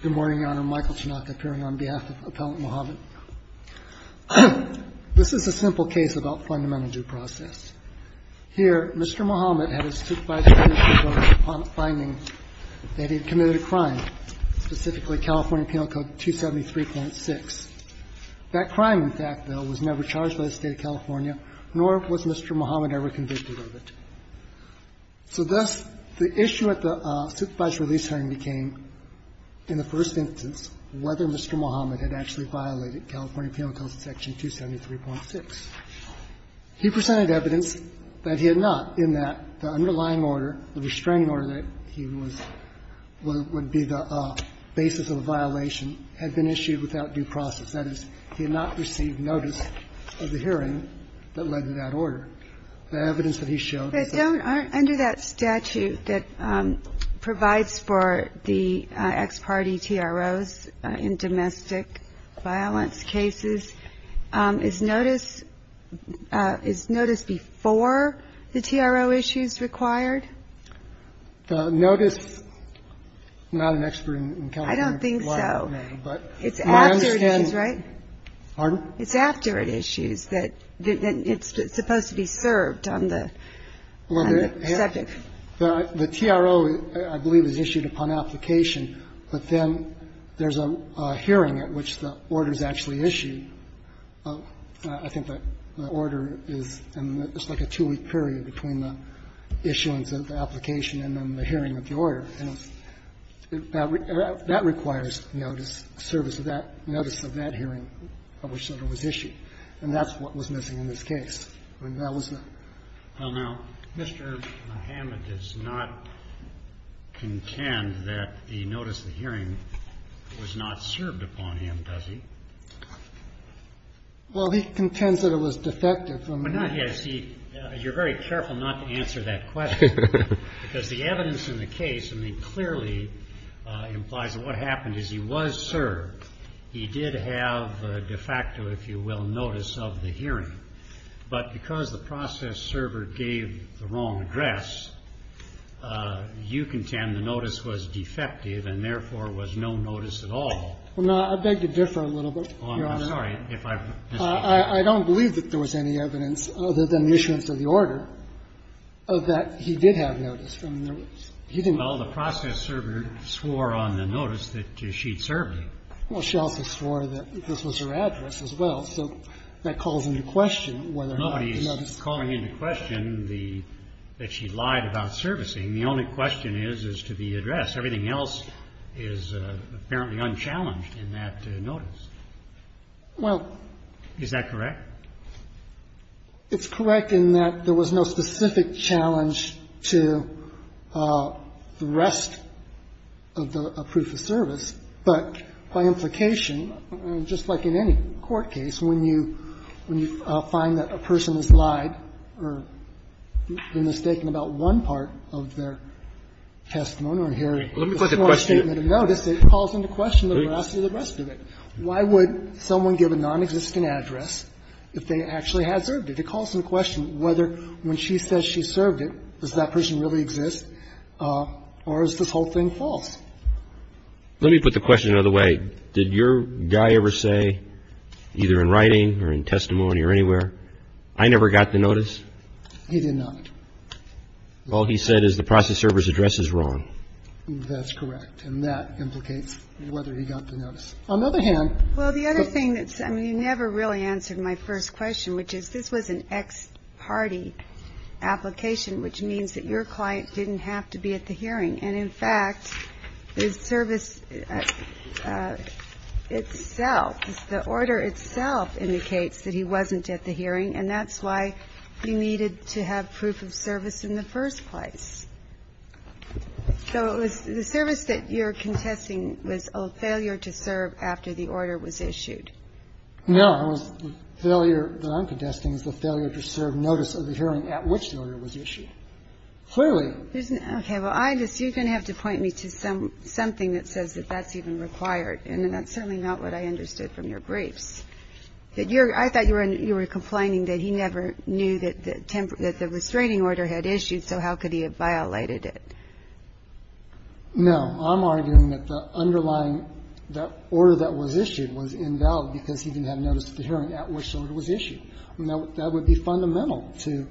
Good morning, Your Honor. Michael Tanaka, appearing on behalf of Appellant Muhammad. This is a simple case about fundamental due process. Here, Mr. Muhammad had a supervised release hearing on the finding that he had committed a crime, specifically California Penal Code 273.6. That crime, in fact, though, was never charged by the State of California, nor was Mr. Muhammad ever convicted of it. So thus, the issue of the supervised release hearing became, in the first instance, whether Mr. Muhammad had actually violated California Penal Code section 273.6. He presented evidence that he had not, in that the underlying order, the restraining order that he was – would be the basis of a violation had been issued without due process. That is, he had not received notice of the hearing that led to that order. The evidence that he showed is that – Kagan. Under that statute that provides for the ex parte TROs in domestic violence cases, is notice – is notice before the TRO issues required? The notice – I'm not an expert in California law, Your Honor, but you understand Pardon? It's after it issues that – that it's supposed to be served on the – Well, the – Second. The TRO, I believe, is issued upon application, but then there's a hearing at which the order is actually issued. I think the order is in just like a two-week period between the issuance of the application and then the hearing of the order. And that requires notice, service of that – notice of that hearing at which the order was issued. And that's what was missing in this case. I mean, that was the – Well, now, Mr. Mohamed does not contend that the notice of the hearing was not served upon him, does he? Well, he contends that it was defective from the – But not yet. He – you're very careful not to answer that question, because the evidence in the case, I mean, clearly implies that what happened is he was served. He did have a de facto, if you will, notice of the hearing. But because the process server gave the wrong address, you contend the notice was defective and, therefore, was no notice at all. Well, now, I beg to differ a little bit, Your Honor. Oh, I'm sorry. If I've missed something. I don't believe that there was any evidence, other than the issuance of the order, of that he did have notice. I mean, there was – he didn't – Well, the process server swore on the notice that she'd served him. Well, she also swore that this was her address as well. So that calls into question whether or not the notice was defective. It's calling into question the – that she lied about servicing. The only question is, is to the address. Everything else is apparently unchallenged in that notice. Well – Is that correct? It's correct in that there was no specific challenge to the rest of the proof of service. But by implication, just like in any court case, when you – when you find that a person has lied or been mistaken about one part of their testimony or hearing a small statement of notice, it calls into question the rest of the rest of it. Why would someone give a nonexistent address if they actually had served it? It calls into question whether, when she says she served it, does that person really exist, or is this whole thing false? Let me put the question another way. Did your guy ever say, either in writing or in testimony or anywhere, I never got the notice? He did not. All he said is the process server's address is wrong. That's correct. And that implicates whether he got the notice. On the other hand – Well, the other thing that's – I mean, you never really answered my first question, which is, this was an ex parte application, which means that your client didn't have to be at the hearing. And, in fact, the service itself, the order itself indicates that he wasn't at the hearing, and that's why you needed to have proof of service in the first place. So it was the service that you're contesting was a failure to serve after the order was issued. No, it was the failure that I'm contesting is the failure to serve notice of the hearing at which the order was issued. Clearly – Okay. Well, I just – you're going to have to point me to something that says that that's even required, and that's certainly not what I understood from your briefs. That you're – I thought you were complaining that he never knew that the restraining order had issued, so how could he have violated it? No. I'm arguing that the underlying – the order that was issued was invalid because he didn't have notice of the hearing at which the order was issued. That would be fundamental to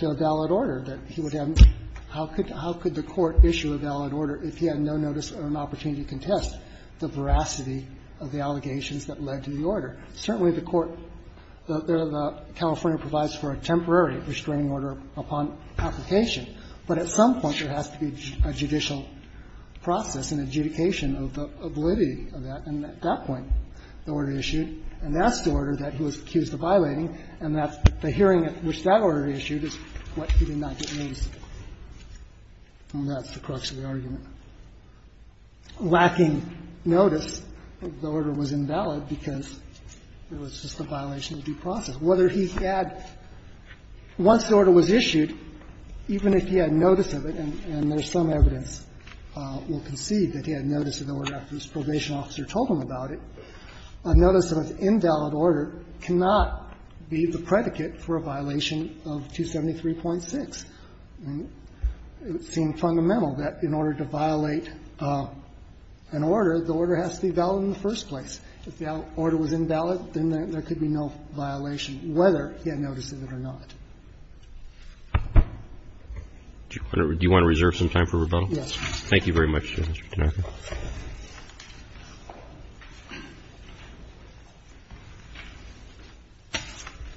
a valid order, that he would have – how could the court issue a valid order if he had no notice or an opportunity to contest the veracity of the allegations that led to the order? Certainly, the court – the California provides for a temporary restraining order upon application, but at some point there has to be a judicial process, an adjudication of the validity of that, and at that point the order issued, and that's the order that he was accused of violating, and that's the hearing at which that order issued is what he did not get notice of, and that's the crux of the argument. Lacking notice, the order was invalid because it was just a violation of due process. Whether he had – once the order was issued, even if he had notice of it, and there's some evidence we'll concede that he had notice of the order after his probation officer told him about it, a notice of an invalid order cannot be the predicate for a violation of 273.6. It would seem fundamental that in order to violate an order, the order has to be valid in the first place. If the order was invalid, then there could be no violation, whether he had notice of it or not. Do you want to reserve some time for rebuttal? Yes. Thank you very much, Mr. Tanaka.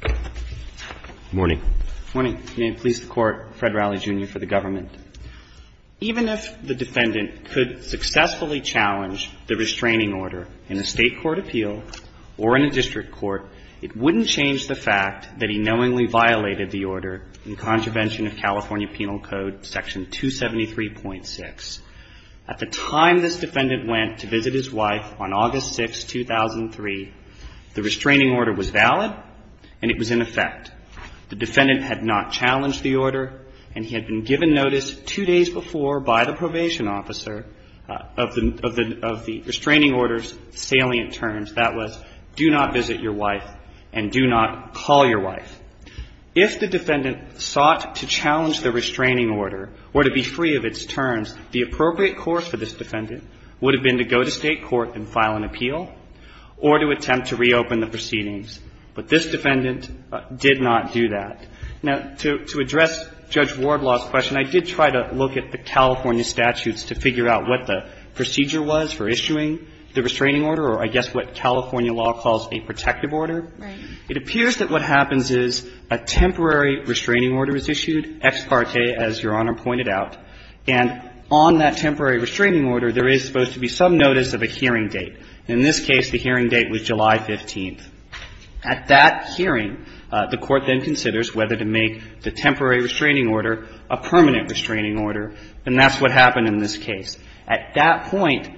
Good morning. Good morning. May it please the Court, Fred Rowley, Jr., for the government. Even if the defendant could successfully challenge the restraining order in a State court appeal or in a district court, it wouldn't change the fact that he knowingly violated the order in contravention of California Penal Code Section 273.6. At the time this defendant went to visit his wife on August 6, 2003, the restraining order was valid and it was in effect. The defendant had not challenged the order and he had been given notice two days before by the probation officer of the restraining order's salient terms. That was, do not visit your wife and do not call your wife. If the defendant sought to challenge the restraining order or to be free of its terms, the appropriate course for this defendant would have been to go to State court and file an appeal or to attempt to reopen the proceedings. But this defendant did not do that. Now, to address Judge Wardlaw's question, I did try to look at the California statutes to figure out what the procedure was for issuing the restraining order, or I guess what California law calls a protective order. It appears that what happens is a temporary restraining order is issued, ex parte, as Your Honor pointed out, and on that temporary restraining order, there is supposed to be some notice of a hearing date. In this case, the hearing date was July 15th. At that hearing, the Court then considers whether to make the temporary restraining order a permanent restraining order, and that's what happened in this case. At that point,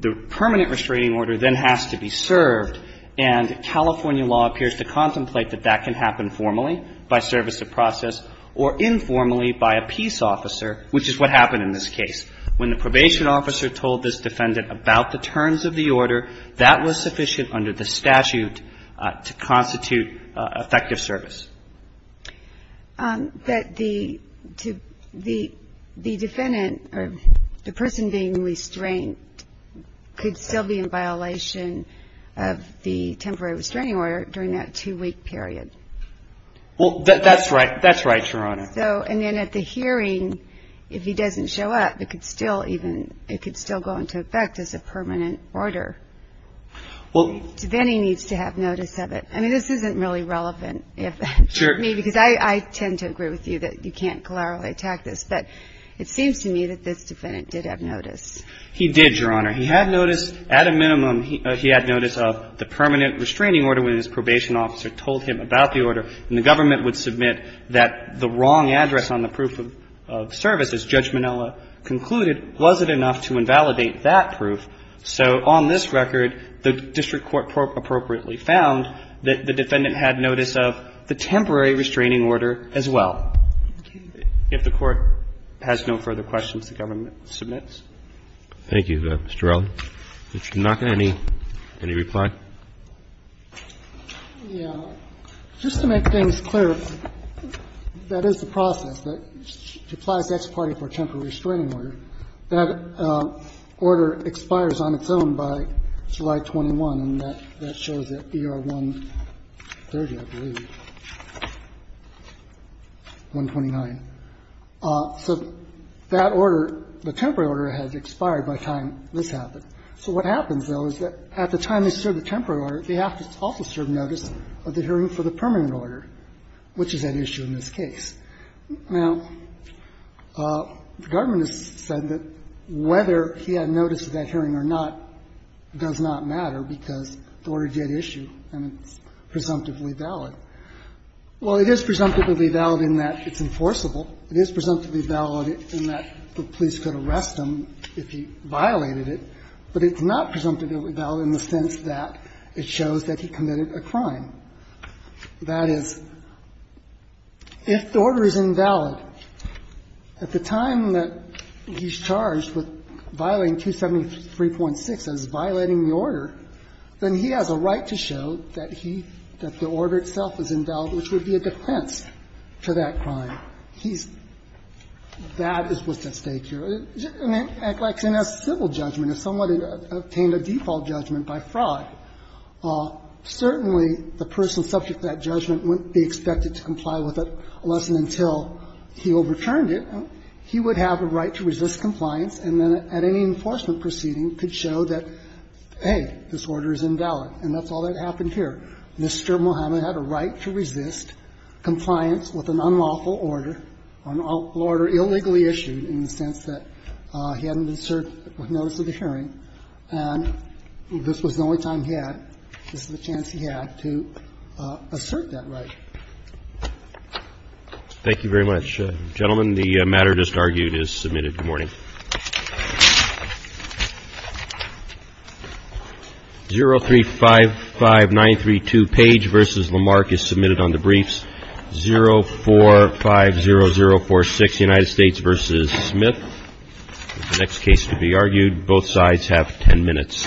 the permanent restraining order then has to be served, and California law appears to contemplate that that can happen formally by service of process or informally by a peace officer, which is what happened in this case. When the probation officer told this defendant about the terms of the order, that was sufficient under the statute to constitute effective service. That the defendant, or the person being restrained, could still be in violation of the temporary restraining order during that two-week period. Well, that's right. That's right, Your Honor. So, and then at the hearing, if he doesn't show up, it could still even, it could still go into effect as a permanent order. Well, then he needs to have notice of it. I mean, this isn't really relevant if me, because I tend to agree with you that you can't clearly attack this, but it seems to me that this defendant did have notice. He did, Your Honor. He had notice, at a minimum, he had notice of the permanent restraining order when his probation officer told him about the order, and the government would submit that the wrong address on the proof of service, as Judge Minella concluded, wasn't enough to invalidate that proof. So on this record, the district court appropriately found that the defendant had notice of the temporary restraining order as well. If the Court has no further questions, the government submits. Thank you, Mr. Rowley. Mr. Naka, any reply? Yeah. Just to make things clear, that is the process that applies to Ex parte for temporary restraining order. That order expires on its own by July 21, and that shows at ER 130, I believe. 129. So that order, the temporary order, has expired by the time this happened. So what happens, though, is that at the time they serve the temporary order, they have to also serve notice of the hearing for the permanent order, which is an issue in this case. Now, the government has said that whether he had notice of that hearing or not does not matter because the order did issue, and it's presumptively valid. Well, it is presumptively valid in that it's enforceable. It is presumptively valid in that the police could arrest him if he violated it, but it's not presumptively valid in the sense that it shows that he committed a crime. That is, if the order is invalid, at the time that he's charged with violating 273.6, that is, violating the order, then he has a right to show that he – that the order itself is invalid, which would be a defense to that crime. He's – that is what's at stake here. And it acts like a civil judgment if someone obtained a default judgment by fraud. Certainly, the person subject to that judgment wouldn't be expected to comply with it unless and until he overturned it. He would have a right to resist compliance, and then at any enforcement proceeding could show that, hey, this order is invalid, and that's all that happened here. Mr. Muhammad had a right to resist compliance with an unlawful order, an order illegally issued in the sense that he hadn't served notice of the hearing, and this was the only time he had – this is the chance he had to assert that right. Thank you very much. Gentlemen, the matter just argued is submitted. Good morning. 0355932, Page v. Lamarck, is submitted on the briefs. 0450046, United States v. Smith. The next case to be argued, both sides have 10 minutes. Thank you.